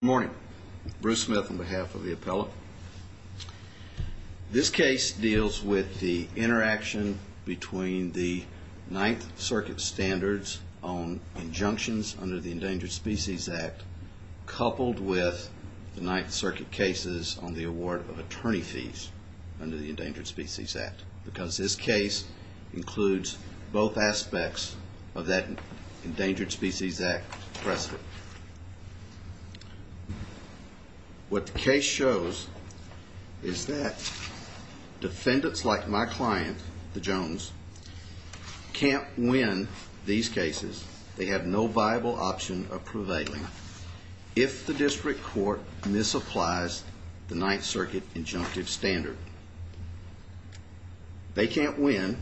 Morning, Bruce Smith on behalf of the appellate. This case deals with the interaction between the Ninth Circuit standards on injunctions under the Endangered Species Act, coupled with the Ninth Circuit cases on the award of attorney fees under the Endangered Species Act, because this case includes both aspects of that Endangered Species Act precedent. What the case shows is that defendants like my client, the Jones, can't win these cases, they have no viable option of prevailing, if the district court misapplies the Ninth Circuit injunctive standard. They can't win,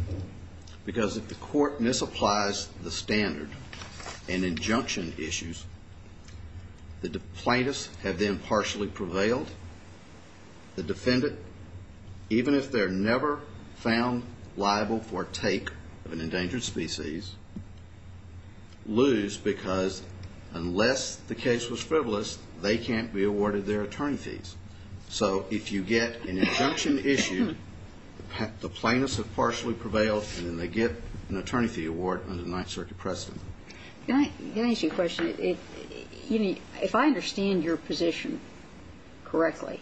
because if the court misapplies the standard and injunction issues, the plaintiffs have then partially prevailed. The defendant, even if they're never found liable for take of an endangered species, lose because unless the case was frivolous, they can't be awarded their attorney fees. So if you get an injunction issue, the plaintiffs have partially prevailed, and then they get an attorney fee award under the Ninth Circuit precedent. Can I ask you a question? If I understand your position correctly,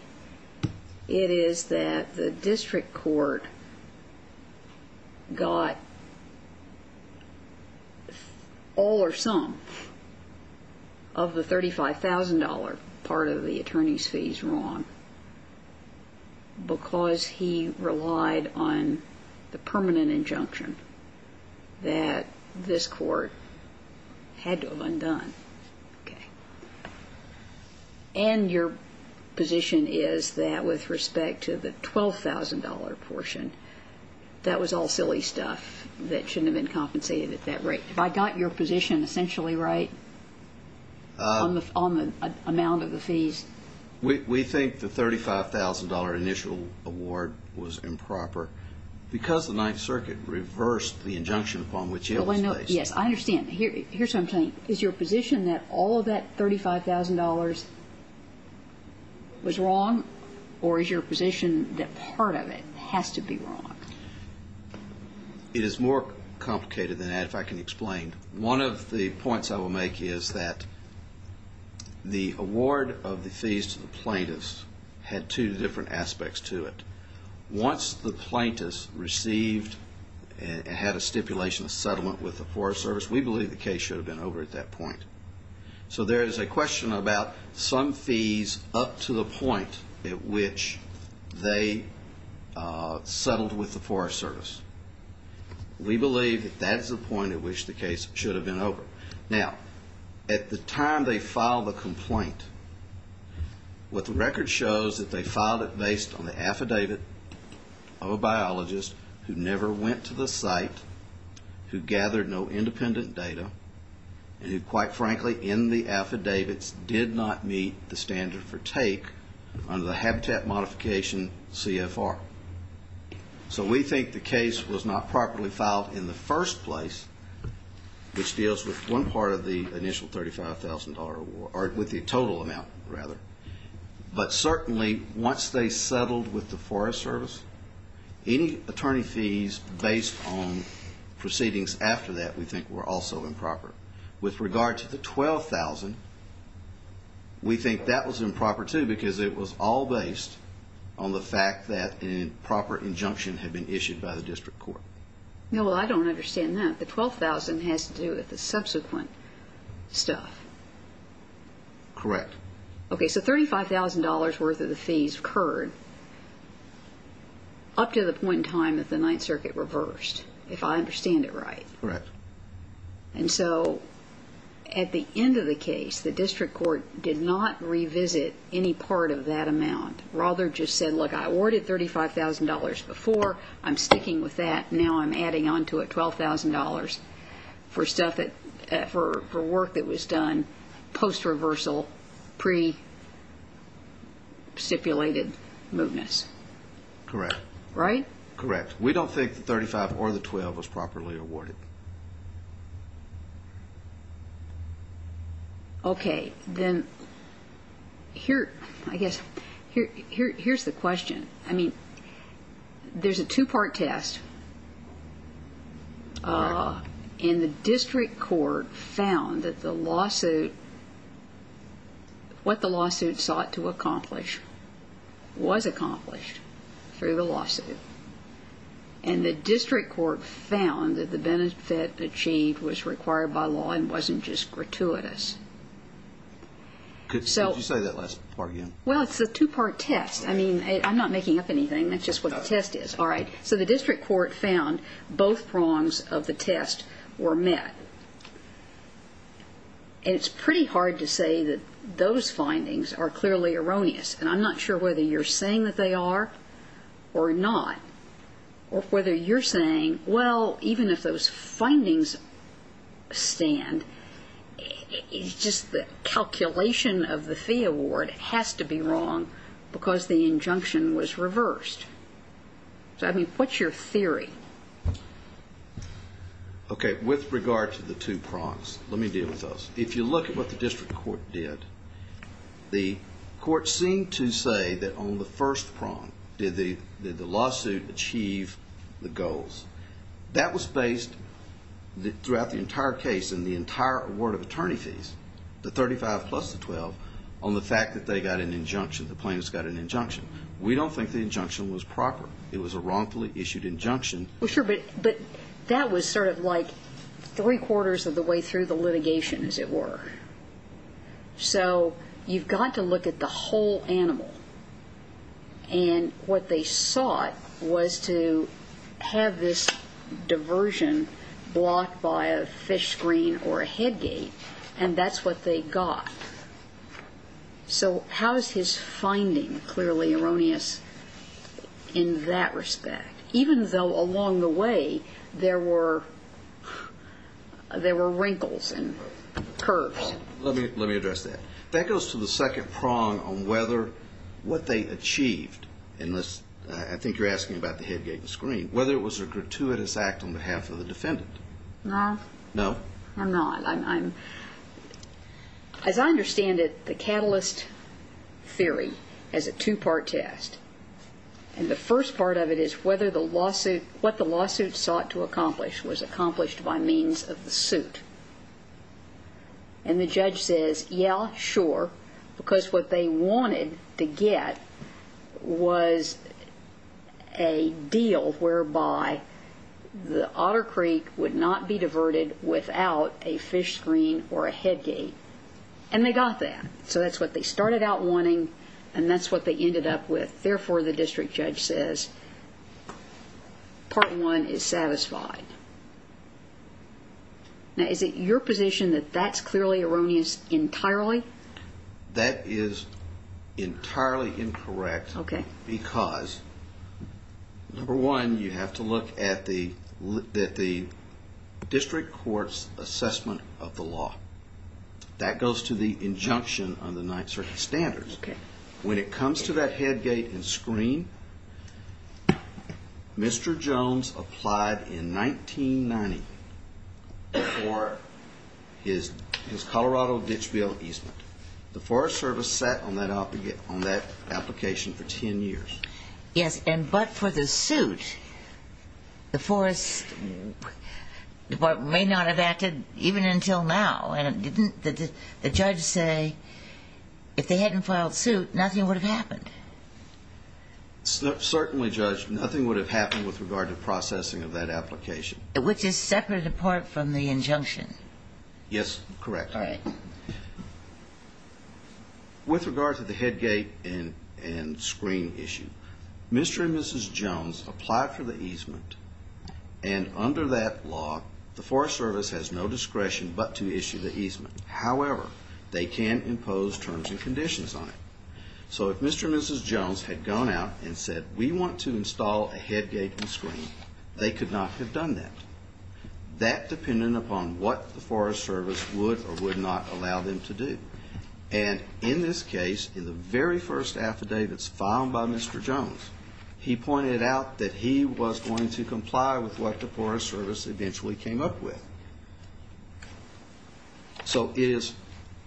it is that the district court got all or some of the $35,000 part of the attorney's fees wrong, because he relied on the permanent injunction that this court had to have undone. And your position is that with respect to the $12,000 portion, that was all silly stuff that shouldn't have been compensated at that rate. Have I got your position essentially right on the amount of the fees? We think the $35,000 initial award was improper, because the Ninth Circuit reversed the injunction upon which it was placed. Yes, I understand. Here's what I'm saying. Is your position that all of that $35,000 was wrong, or is your position that part of it has to be wrong? It is more complicated than that, if I can explain. One of the points I will make is that the award of the fees to the plaintiffs had two different aspects to it. Once the plaintiffs received and had a stipulation of settlement with the Forest Service, we believe the case should have been over at that point. So there is a question about some fees up to the point at which they settled with the Forest Service. We believe that that is the point at which the case should have been over. Now, at the time they filed the complaint, what the record shows is that they filed it based on the affidavit of a biologist who never went to the site, who gathered no independent data, and who, quite frankly, in the affidavits did not meet the standard for take under the Habitat Modification CFR. So we think the case was not properly filed in the first place, which deals with one part of the initial $35,000 award, or with the total amount, rather. But certainly, once they settled with the Forest Service, any attorney fees based on proceedings after that we think were also improper. With regard to the $12,000, we think that was improper too, because it was all based on the fact that an improper injunction had been issued by the district court. No, well, I don't understand that. The $12,000 has to do with the subsequent stuff. Correct. Okay. So $35,000 worth of the fees occurred up to the point in time that the Ninth Circuit reversed, if I understand it right. Correct. And so at the end of the case, the district court did not revisit any part of that amount, rather just said, look, I awarded $35,000 before. I'm sticking with that. Now I'm adding onto it $12,000 for work that was done post reversal, pre-stipulated movements. Correct. Right? Correct. We don't think the $35,000 or the $12,000 was properly awarded. Okay. Then here, I guess, here's the question. I mean, there's a two-part test and the district court found that the lawsuit, what the lawsuit sought to accomplish was accomplished through the lawsuit. And the district court found that the benefit achieved was required by law and wasn't just gratuitous. Could you say that last part again? Well, it's a two-part test. I mean, I'm not making up anything. That's just what the test is. All right. So the district court found both prongs of the test were met. And it's pretty hard to say that those findings are clearly erroneous, and I'm not sure whether you're saying that they are or not, or whether you're saying, well, even if those findings stand, it's just the calculation of the fee award has to be wrong because the injunction was reversed. So, I mean, what's your theory? Okay. With regard to the two prongs, let me deal with those. If you look at what the district court did, the court seemed to say that on the first prong, did the lawsuit achieve the goals? That was based throughout the entire case and the entire award of attorney fees, the 35 plus the 12, on the fact that they got an injunction, the plaintiffs got an injunction. We don't think the injunction was proper. It was a wrongfully issued injunction. Well, sure. But that was sort of like three quarters of the way through the litigation, as it were. So you've got to look at the whole animal and what they sought was to have this diversion blocked by a fish screen or a head gate, and that's what they got. So how is his finding clearly erroneous in that respect, even though along the way there were wrinkles and curves? Let me address that. That goes to the second prong on whether what they achieved in this, I think you're asking about the head gate and screen, whether it was a gratuitous act on behalf of the defendant. No. No? No, I'm not. As I understand it, the catalyst theory has a two-part test. And the first part of it is whether the lawsuit, what the lawsuit sought to accomplish was accomplished by means of the suit. And the judge says, yeah, sure. Because what they wanted to get was a deal whereby the Otter Creek would not be diverted without a fish screen or a head gate. And they got that. So that's what they started out wanting. And that's what they ended up with. Therefore, the district judge says part one is satisfied. Now, is it your position that that's clearly erroneous entirely? That is entirely incorrect because number one, you have to look at the district court's assessment of the law. That goes to the injunction on the Ninth Circuit standards. When it comes to that head gate and screen, Mr. Jones applied in 1990 for his Colorado ditch bill easement. The Forest Service sat on that application for 10 years. Yes. And but for the suit, the Forest may not have acted even until now. Didn't the judge say if they hadn't filed suit, nothing would have happened? Certainly, Judge, nothing would have happened with regard to processing of that application. Which is separate apart from the injunction. Yes, correct. All right. With regard to the head gate and screen issue, Mr. and Mrs. Jones applied for the easement. And under that law, the Forest Service has no discretion, but to However, they can impose terms and conditions on it. So if Mr. and Mrs. Jones had gone out and said, we want to install a head gate and screen, they could not have done that. That dependent upon what the Forest Service would or would not allow them to do. And in this case, in the very first affidavits filed by Mr. Jones, he pointed out that he was going to comply with what the Forest Service eventually came up with. So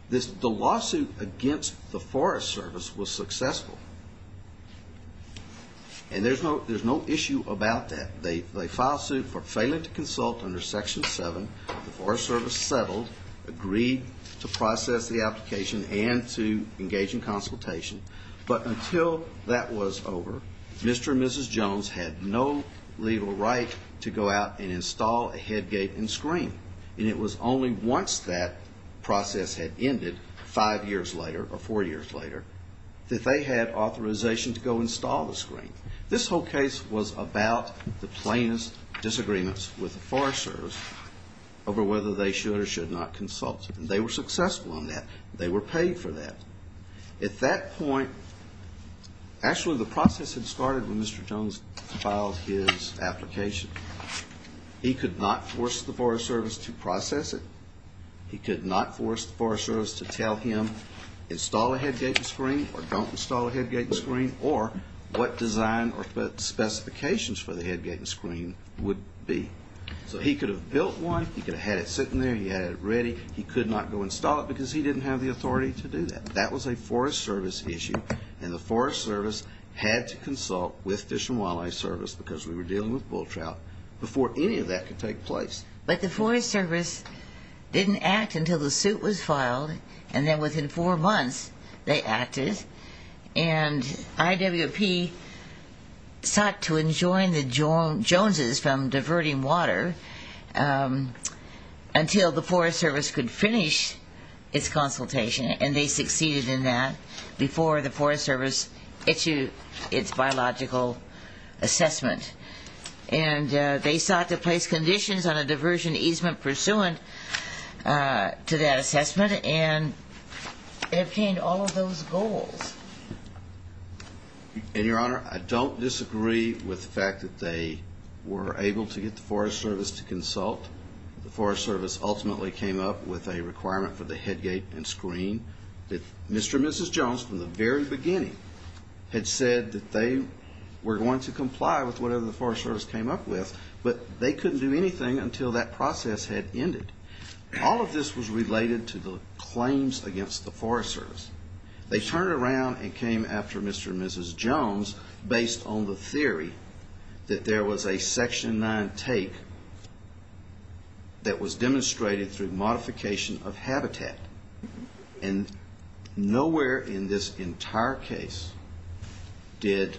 the lawsuit against the Forest Service was successful. And there's no issue about that. They filed suit for failing to consult under section seven. The Forest Service settled, agreed to process the application and to engage in consultation. But until that was over, Mr. and Mrs. Jones had no legal right to go out and install a head gate and screen. And it was only once that process had ended five years later or four years later, that they had authorization to go install the screen. This whole case was about the plainest disagreements with the Forest Service over whether they should or should not consult. And they were successful in that. They were paid for that. At that point, actually the process had started when Mr. Jones filed his application. He could not force the Forest Service to process it. He could not force the Forest Service to tell him install a head gate and screen or don't install a head gate and screen or what design or specifications for the head gate and screen would be. So he could have built one. He could have had it sitting there. He had it ready. He could not go install it because he didn't have the authority to do that. That was a Forest Service issue. And the Forest Service had to consult with Fish and Wildlife Service because we were dealing with bull trout before any of that could take place. But the Forest Service didn't act until the suit was filed. And then within four months they acted. And IWP sought to enjoin the Joneses from diverting water until the Forest Service could finish its consultation. And they succeeded in that before the Forest Service issued its biological assessment and they sought to place conditions on a diversion easement pursuant to that assessment and it obtained all of those goals. And Your Honor, I don't disagree with the fact that they were able to get the Forest Service to consult. The Forest Service ultimately came up with a requirement for the head gate and were going to comply with whatever the Forest Service came up with, but they couldn't do anything until that process had ended. All of this was related to the claims against the Forest Service. They turned around and came after Mr. and Mrs. Jones based on the theory that there was a Section 9 take that was demonstrated through modification of habitat. And nowhere in this entire case did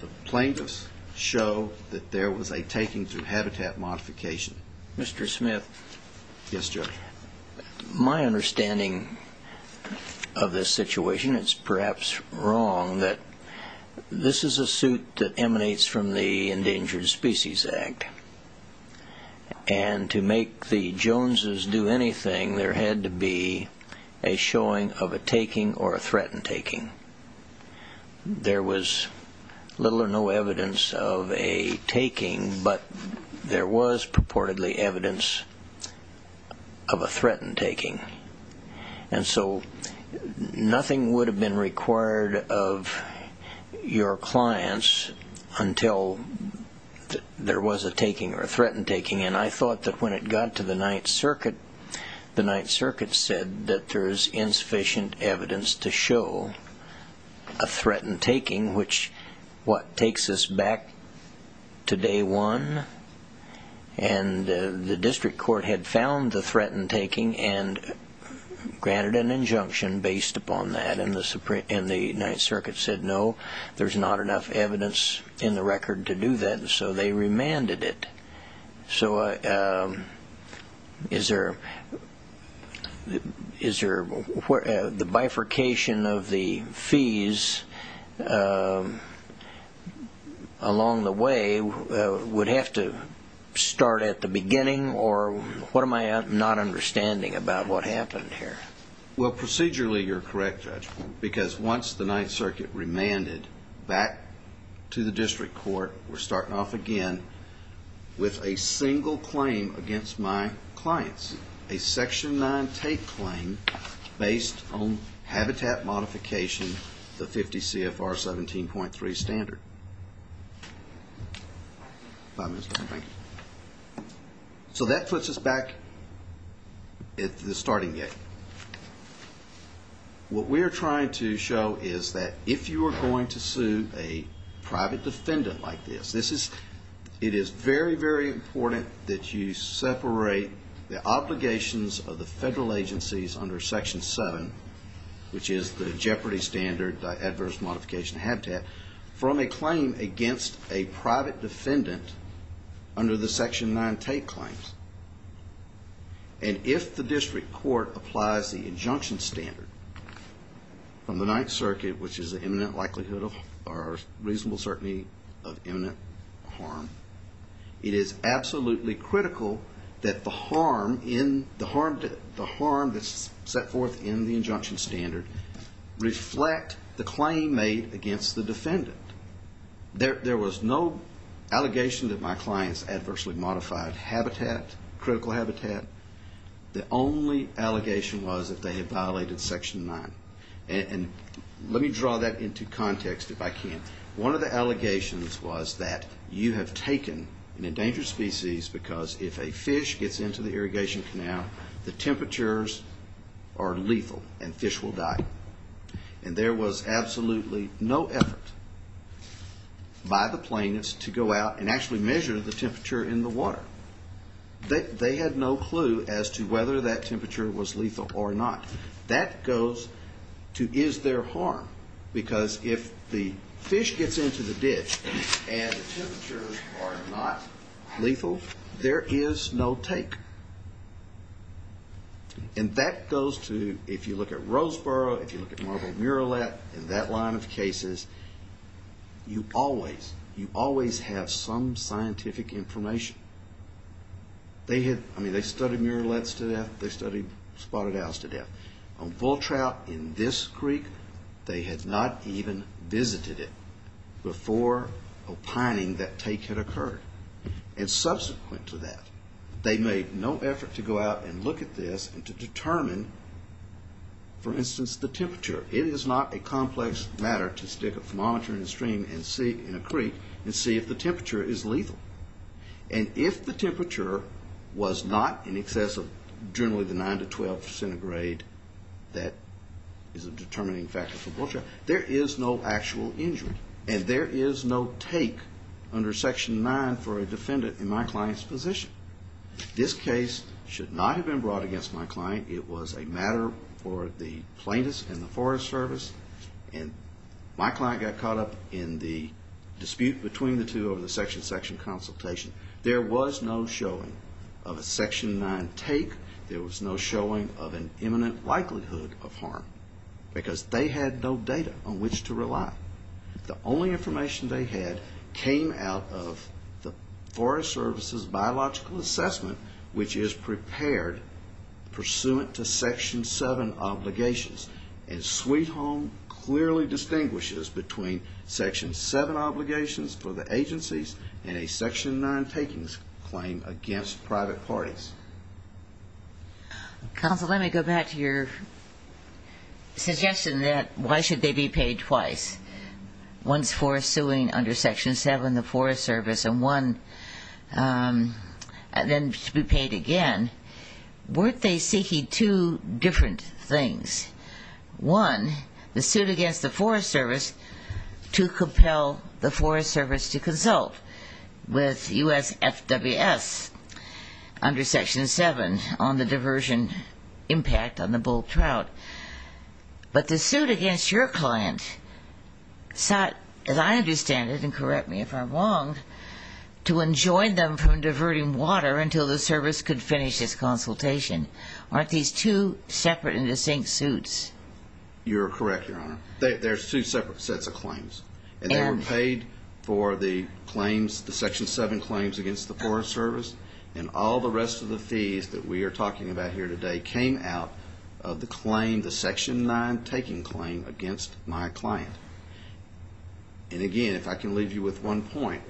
the plaintiffs show that there was a taking through habitat modification. Mr. Smith, my understanding of this situation, it's perhaps wrong that this is a suit that emanates from the Endangered Species Act and to make the a showing of a taking or a threatened taking. There was little or no evidence of a taking, but there was purportedly evidence of a threatened taking. And so nothing would have been required of your clients until there was a taking or a threatened taking. And I thought that when it got to the Ninth Circuit, the Ninth Circuit said that there's insufficient evidence to show a threatened taking, which takes us back to day one and the District Court had found the threatened taking and granted an injunction based upon that. And the Ninth Circuit said, no, there's not enough evidence in the record to do that, and so they remanded it. So is there the bifurcation of the fees along the way would have to start at the beginning or what am I not understanding about what happened here? Well, procedurally, you're correct, Judge, because once the Ninth Circuit remanded back to the District Court, we're starting off again with a single claim against my clients, a section nine take claim based on habitat modification, the 50 CFR 17.3 standard. Five minutes. So that puts us back at the starting gate. What we're trying to show is that if you are going to sue a private defendant like this, it is very, very important that you separate the obligations of the federal agencies under section seven, which is the jeopardy standard, the adverse modification of habitat, from a claim against a private defendant under the section nine take claims. And if the District Court applies the injunction standard from the Ninth Circuit, which is the imminent likelihood of or reasonable certainty of imminent harm, it is absolutely critical that the harm that's set forth in the injunction standard reflect the claim made against the defendant. There was no allegation that my clients adversely modified habitat, critical habitat. The only allegation was that they had violated section nine. And let me draw that into context if I can. One of the allegations was that you have taken an endangered species because if a fish gets into the irrigation canal, the temperatures are lethal and fish will die. And there was absolutely no effort by the plaintiffs to go out and actually measure the temperature in the water. They had no clue as to whether that temperature was lethal or not. That goes to, is there harm? Because if the fish gets into the ditch and the temperatures are not lethal, there is no take, and that goes to, if you look at Roseboro, if you look at Marble Murillette and that line of cases, you always, you always have some scientific information. They had, I mean, they studied Murillettes to death. They studied spotted owls to death. On bull trout in this creek, they had not even visited it before opining that take had occurred. And subsequent to that, they made no effort to go out and look at this and to determine, for instance, the temperature. It is not a complex matter to stick a thermometer in a stream and see, in a creek, and see if the temperature is lethal. And if the temperature was not in excess of generally the 9 to 12 centigrade, that is a determining factor for bull trout, there is no actual injury and there is no take under Section 9 for a defendant in my client's position. This case should not have been brought against my client. It was a matter for the plaintiffs and the Forest Service. And my client got caught up in the dispute between the two over the section consultation. There was no showing of a Section 9 take. There was no showing of an imminent likelihood of harm because they had no data on which to rely. The only information they had came out of the Forest Service's biological assessment, which is prepared pursuant to Section 7 obligations. And Sweet Home clearly distinguishes between Section 7 obligations for the agencies and a Section 9 takings claim against private parties. Counsel, let me go back to your suggestion that why should they be paid twice? Once for suing under Section 7, the Forest Service and one, and then to be paid again, weren't they seeking two different things? One, the suit against the Forest Service to compel the Forest Service to consult with USFWS under Section 7 on the diversion impact on the bull trout. But the suit against your client sought, as I understand it, and correct me if I'm wrong, to enjoin them from diverting water until the service could finish this consultation. Aren't these two separate and distinct suits? You're correct, Your Honor. There's two separate sets of claims. And they were paid for the claims, the Section 7 claims against the Forest Service, and all the rest of the fees that we are talking about here today came out of the claim, the Section 9 taking claim against my client. And again, if I can leave you with one point,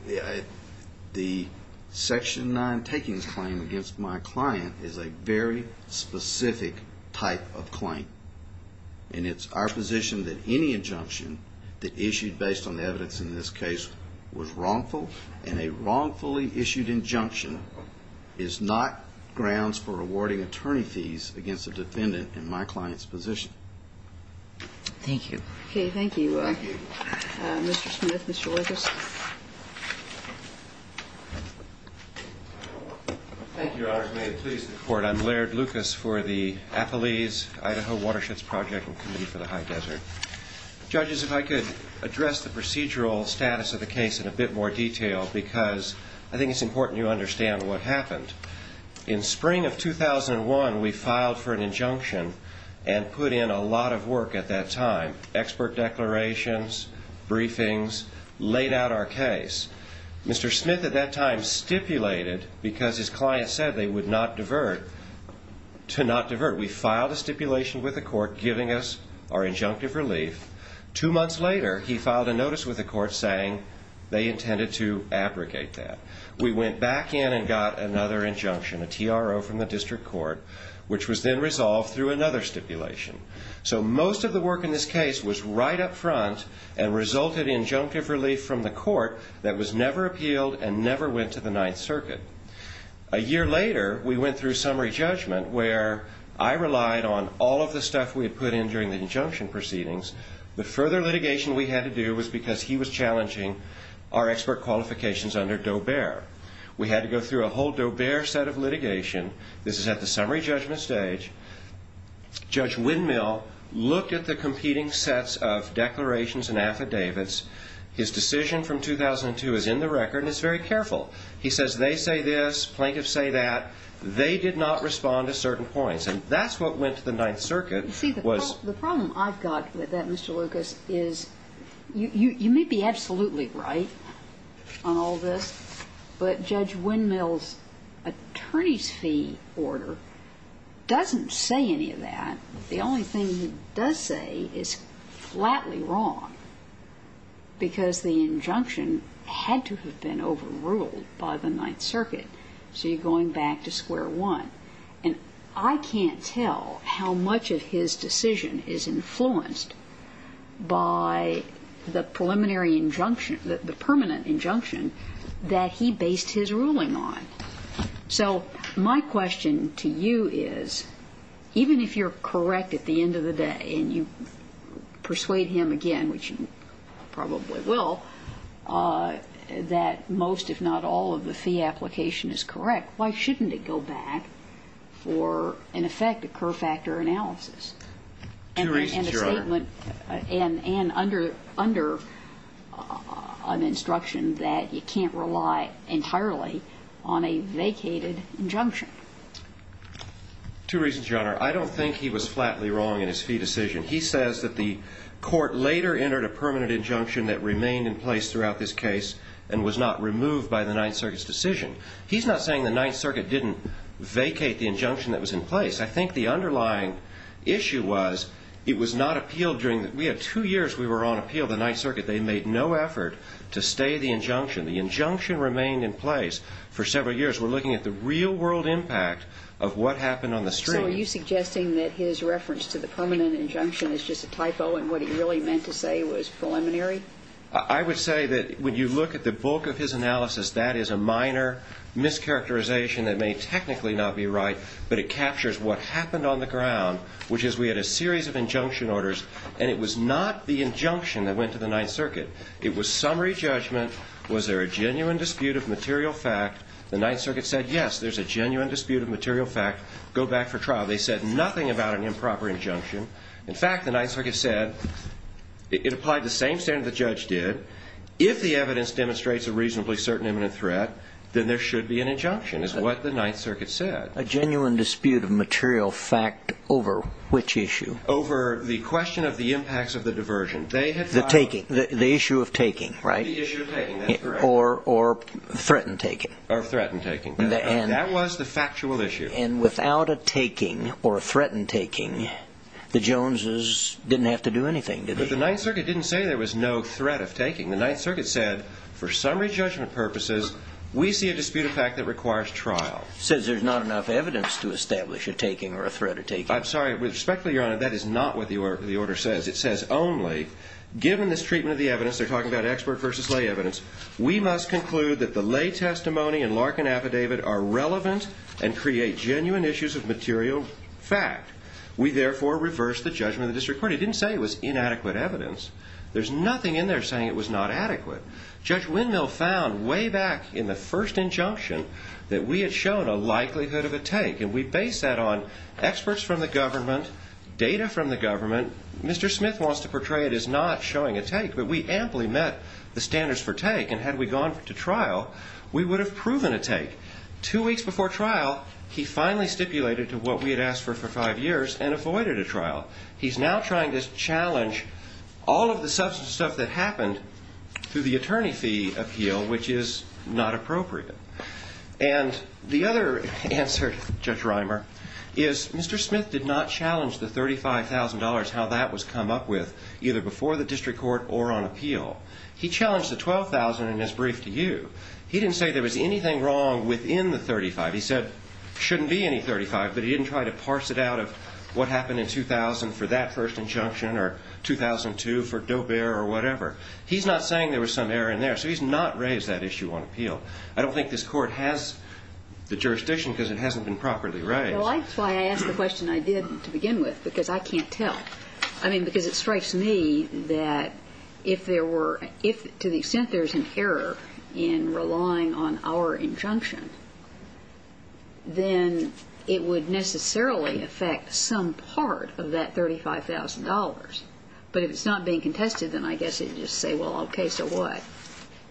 the Section 9 takings claim against my client is a very specific type of claim. And it's our position that any injunction that issued based on the evidence in this case was wrongful, and a wrongfully issued injunction is not grounds for awarding attorney fees against a defendant in my client's position. Thank you. Okay. Thank you, Mr. Smith. Mr. Lucas. Thank you, Your Honor. May it please the Court. I'm Laird Lucas for the Appalese-Idaho Watersheds Project and Committee for the High Desert. Judges, if I could address the procedural status of the case in a bit more detail, because I think it's important you understand what happened. In spring of 2001, we filed for an injunction and put in a lot of work at that time, expert declarations, briefings, laid out our case. Mr. Smith at that time stipulated, because his client said they would not divert, to not divert. We filed a stipulation with the court giving us our injunctive relief. Two months later, he filed a notice with the court saying they intended to abrogate that. We went back in and got another injunction, a TRO from the district court, which was then resolved through another stipulation. So most of the work in this case was right up front and resulted in injunctive relief from the court that was never appealed and never went to the Ninth Circuit. A year later, we went through summary judgment where I relied on all of the stuff we had put in during the injunction proceedings. The further litigation we had to do was because he was challenging our expert qualifications under Dobear. We had to go through a whole Dobear set of litigation. This is at the summary judgment stage. Judge Windmill looked at the competing sets of declarations and affidavits. His decision from 2002 is in the record and it's very careful. He says, they say this, plaintiffs say that, they did not respond to certain points. And that's what went to the Ninth Circuit. You see, the problem I've got with that, Mr. Lucas, is you may be absolutely right on all this, but Judge Windmill's attorney's fee order doesn't say any of that. The only thing he does say is flatly wrong because the injunction had to have been overruled by the Ninth Circuit. So you're going back to square one. And I can't tell how much of his decision is influenced by the preliminary injunction, the permanent injunction that he based his ruling on. So my question to you is, even if you're correct at the end of the day and you most, if not all, of the fee application is correct, why shouldn't it go back for, in effect, a Kerr factor analysis? Two reasons, Your Honor. And a statement, and under an instruction that you can't rely entirely on a vacated injunction. Two reasons, Your Honor. I don't think he was flatly wrong in his fee decision. He says that the court later entered a permanent injunction that remained in place throughout this case and was not removed by the Ninth Circuit's decision. He's not saying the Ninth Circuit didn't vacate the injunction that was in place. I think the underlying issue was it was not appealed during the, we had two years we were on appeal, the Ninth Circuit. They made no effort to stay the injunction. The injunction remained in place for several years. We're looking at the real world impact of what happened on the street. So are you suggesting that his reference to the permanent injunction is just a typo and what he really meant to say was preliminary? I would say that when you look at the bulk of his analysis, that is a minor mischaracterization that may technically not be right, but it captures what happened on the ground, which is we had a series of injunction orders, and it was not the injunction that went to the Ninth Circuit. It was summary judgment. Was there a genuine dispute of material fact? The Ninth Circuit said, yes, there's a genuine dispute of material fact. Go back for trial. They said nothing about an improper injunction. In fact, the Ninth Circuit said it applied the same standard the judge did. If the evidence demonstrates a reasonably certain imminent threat, then there should be an injunction, is what the Ninth Circuit said. A genuine dispute of material fact over which issue? Over the question of the impacts of the diversion. They had found- The taking, the issue of taking, right? The issue of taking, that's correct. Or threatened taking. Or threatened taking, that was the factual issue. And without a taking or a threatened taking, the Joneses didn't have to do anything, did they? But the Ninth Circuit didn't say there was no threat of taking. The Ninth Circuit said, for summary judgment purposes, we see a dispute of fact that requires trial. It says there's not enough evidence to establish a taking or a threat of taking. I'm sorry, respectfully, Your Honor, that is not what the order says. It says only, given this treatment of the evidence, they're talking about expert versus lay evidence, we must conclude that the lay testimony and Larkin affidavit are relevant and create genuine issues of material fact. We therefore reverse the judgment of the district court. It didn't say it was inadequate evidence. There's nothing in there saying it was not adequate. Judge Windmill found way back in the first injunction that we had shown a likelihood of a take, and we base that on experts from the government, data from the government. Mr. Smith wants to portray it as not showing a take, but we amply met the standards for take, and had we gone to trial, we would have proven a take. Two weeks before trial, he finally stipulated to what we had asked for for five years and avoided a trial. He's now trying to challenge all of the substance of stuff that happened through the attorney fee appeal, which is not appropriate. And the other answer, Judge Reimer, is Mr. Smith did not challenge the $35,000, how that was come up with, either before the district court or on appeal. He challenged the $12,000 in his brief to you. He didn't say there was anything wrong within the $35,000. He said, shouldn't be any $35,000, but he didn't try to parse it out of what happened in 2000 for that first injunction or 2002 for Doe-Bear or whatever. He's not saying there was some error in there, so he's not raised that issue on appeal. I don't think this court has the jurisdiction because it hasn't been properly raised. Well, that's why I asked the question I did to begin with, because I can't tell. I mean, because it strikes me that if there were, if to the extent there's an error in relying on our injunction, then it would necessarily affect some part of that $35,000. But if it's not being contested, then I guess it'd just say, well, okay, so what?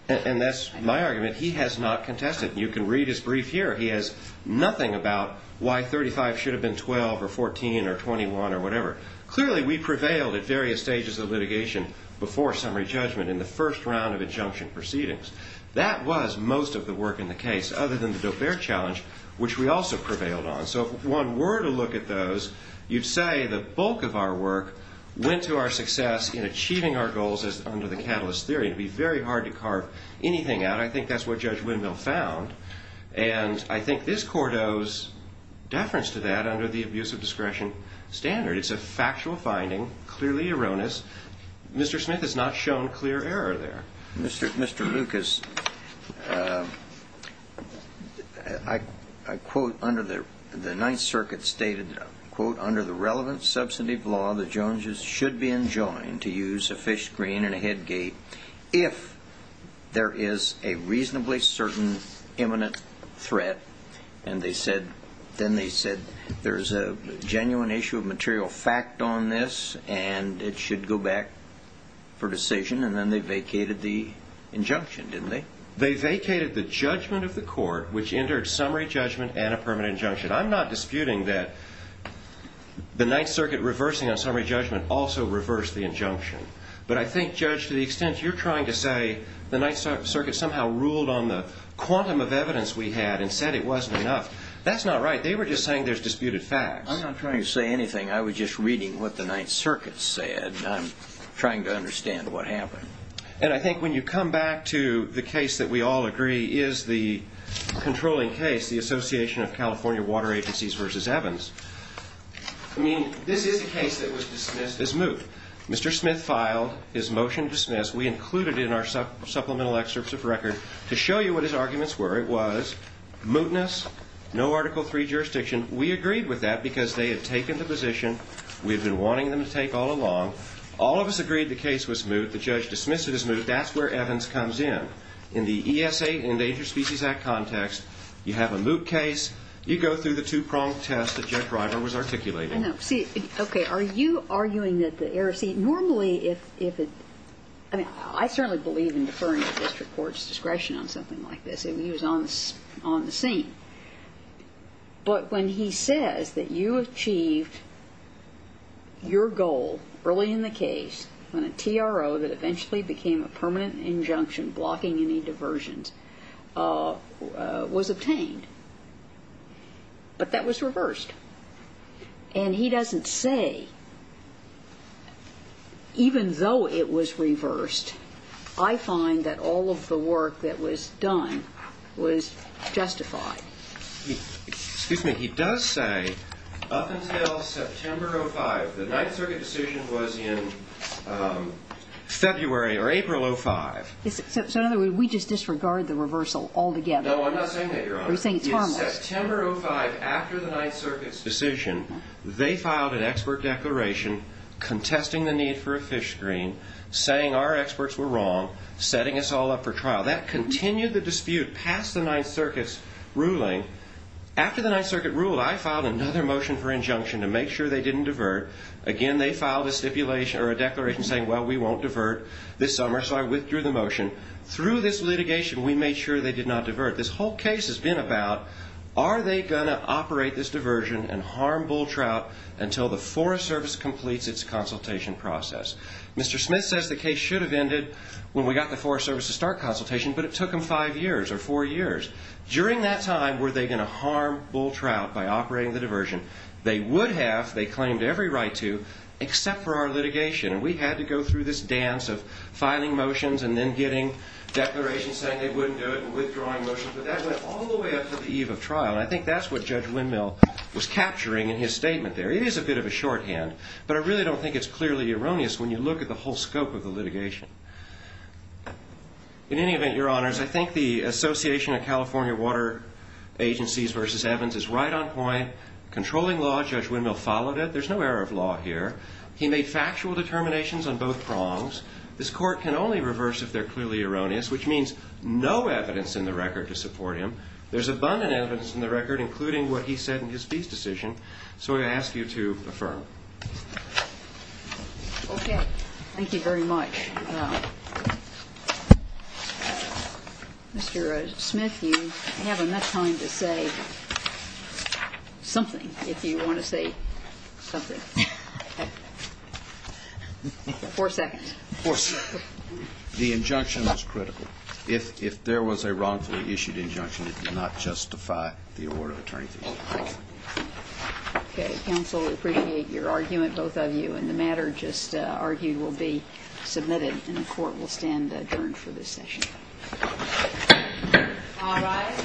And that's my argument. He has not contested. You can read his brief here. He has nothing about why $35,000 should have been $12,000 or $14,000 or $21,000 or whatever. But really, we prevailed at various stages of litigation before summary judgment in the first round of injunction proceedings. That was most of the work in the case, other than the Doe-Bear challenge, which we also prevailed on. So if one were to look at those, you'd say the bulk of our work went to our success in achieving our goals under the catalyst theory. It'd be very hard to carve anything out. I think that's what Judge Windmill found. And I think this court owes deference to that under the abuse of discretion standard. It's a factual finding, clearly erroneous. Mr. Smith has not shown clear error there. Mr. Lucas, I quote under the Ninth Circuit stated, quote, under the relevant substantive law, the Joneses should be enjoined to use a fish screen and a head gate if there is a reasonably certain imminent threat. And then they said, there's a genuine issue of material fact on this, and it should go back for decision. And then they vacated the injunction, didn't they? They vacated the judgment of the court, which entered summary judgment and a permanent injunction. I'm not disputing that the Ninth Circuit reversing on summary judgment also reversed the injunction. But I think, Judge, to the extent you're trying to say the Ninth Circuit somehow ruled on the quantum of evidence we had and said it wasn't enough, that's not right. They were just saying there's disputed facts. I'm not trying to say anything. I was just reading what the Ninth Circuit said. I'm trying to understand what happened. And I think when you come back to the case that we all agree is the controlling case, the Association of California Water Agencies versus Evans, I mean, this is a case that was dismissed as moot. Mr. Smith filed his motion to dismiss. We included it in our supplemental excerpts of record to show you what his arguments were. It was mootness, no Article III jurisdiction. We agreed with that because they had taken the position we had been wanting them to take all along. All of us agreed the case was moot. The judge dismissed it as moot. That's where Evans comes in. In the ESA, Endangered Species Act context, you have a moot case, you go through the two-pronged test that Judge Reimer was articulating. I know. See, okay, are you arguing that the error of C, normally if it, I mean, I certainly believe in deferring a district court's discretion on something like this. I mean, he was on the scene. But when he says that you achieved your goal early in the case on a TRO that eventually became a permanent injunction blocking any diversions was obtained. But that was reversed. And he doesn't say, even though it was reversed, I find that all of the work that was done was justified. Excuse me. He does say, up until September of 05, the Ninth Circuit decision was in February or April of 05. So, in other words, we just disregard the reversal altogether. No, I'm not saying that, Your Honor. You're saying it's harmless. In September of 05, after the Ninth Circuit's decision, they filed an expert declaration contesting the need for a fish screen, saying our experts were wrong, setting us all up for trial. That continued the dispute past the Ninth Circuit's ruling. After the Ninth Circuit ruled, I filed another motion for injunction to make sure they didn't divert. Again, they filed a stipulation or a declaration saying, well, we won't divert this summer. So I withdrew the motion. Through this litigation, we made sure they did not divert. This whole case has been about, are they going to operate this diversion and harm bull trout until the Forest Service completes its consultation process? Mr. Smith says the case should have ended when we got the Forest Service to start consultation, but it took them five years or four years. During that time, were they going to harm bull trout by operating the diversion? They would have. They claimed every right to, except for our litigation. We had to go through this dance of filing motions and then getting declarations saying they wouldn't do it and withdrawing motions. But that went all the way up to the eve of trial, and I think that's what Judge Windmill was capturing in his statement there. It is a bit of a shorthand, but I really don't think it's clearly erroneous when you look at the whole scope of the litigation. In any event, Your Honors, I think the association of California Water Agencies versus Evans is right on point. Controlling law, Judge Windmill followed it. There's no error of law here. He made factual determinations on both prongs. This Court can only reverse if they're clearly erroneous, which means no evidence in the record to support him. There's abundant evidence in the record, including what he said in his fees decision, so I ask you to affirm. Okay. Thank you very much. Mr. Smith, you have enough time to say something, if you want to say something. Four seconds. Of course, the injunction was critical. If there was a wrongfully issued injunction, it did not justify the award of attorney's appeal. Okay. Counsel, we appreciate your argument, both of you, and the matter just argued will be submitted and the Court will stand adjourned for this session. All rise. The majority is having a chance of dying.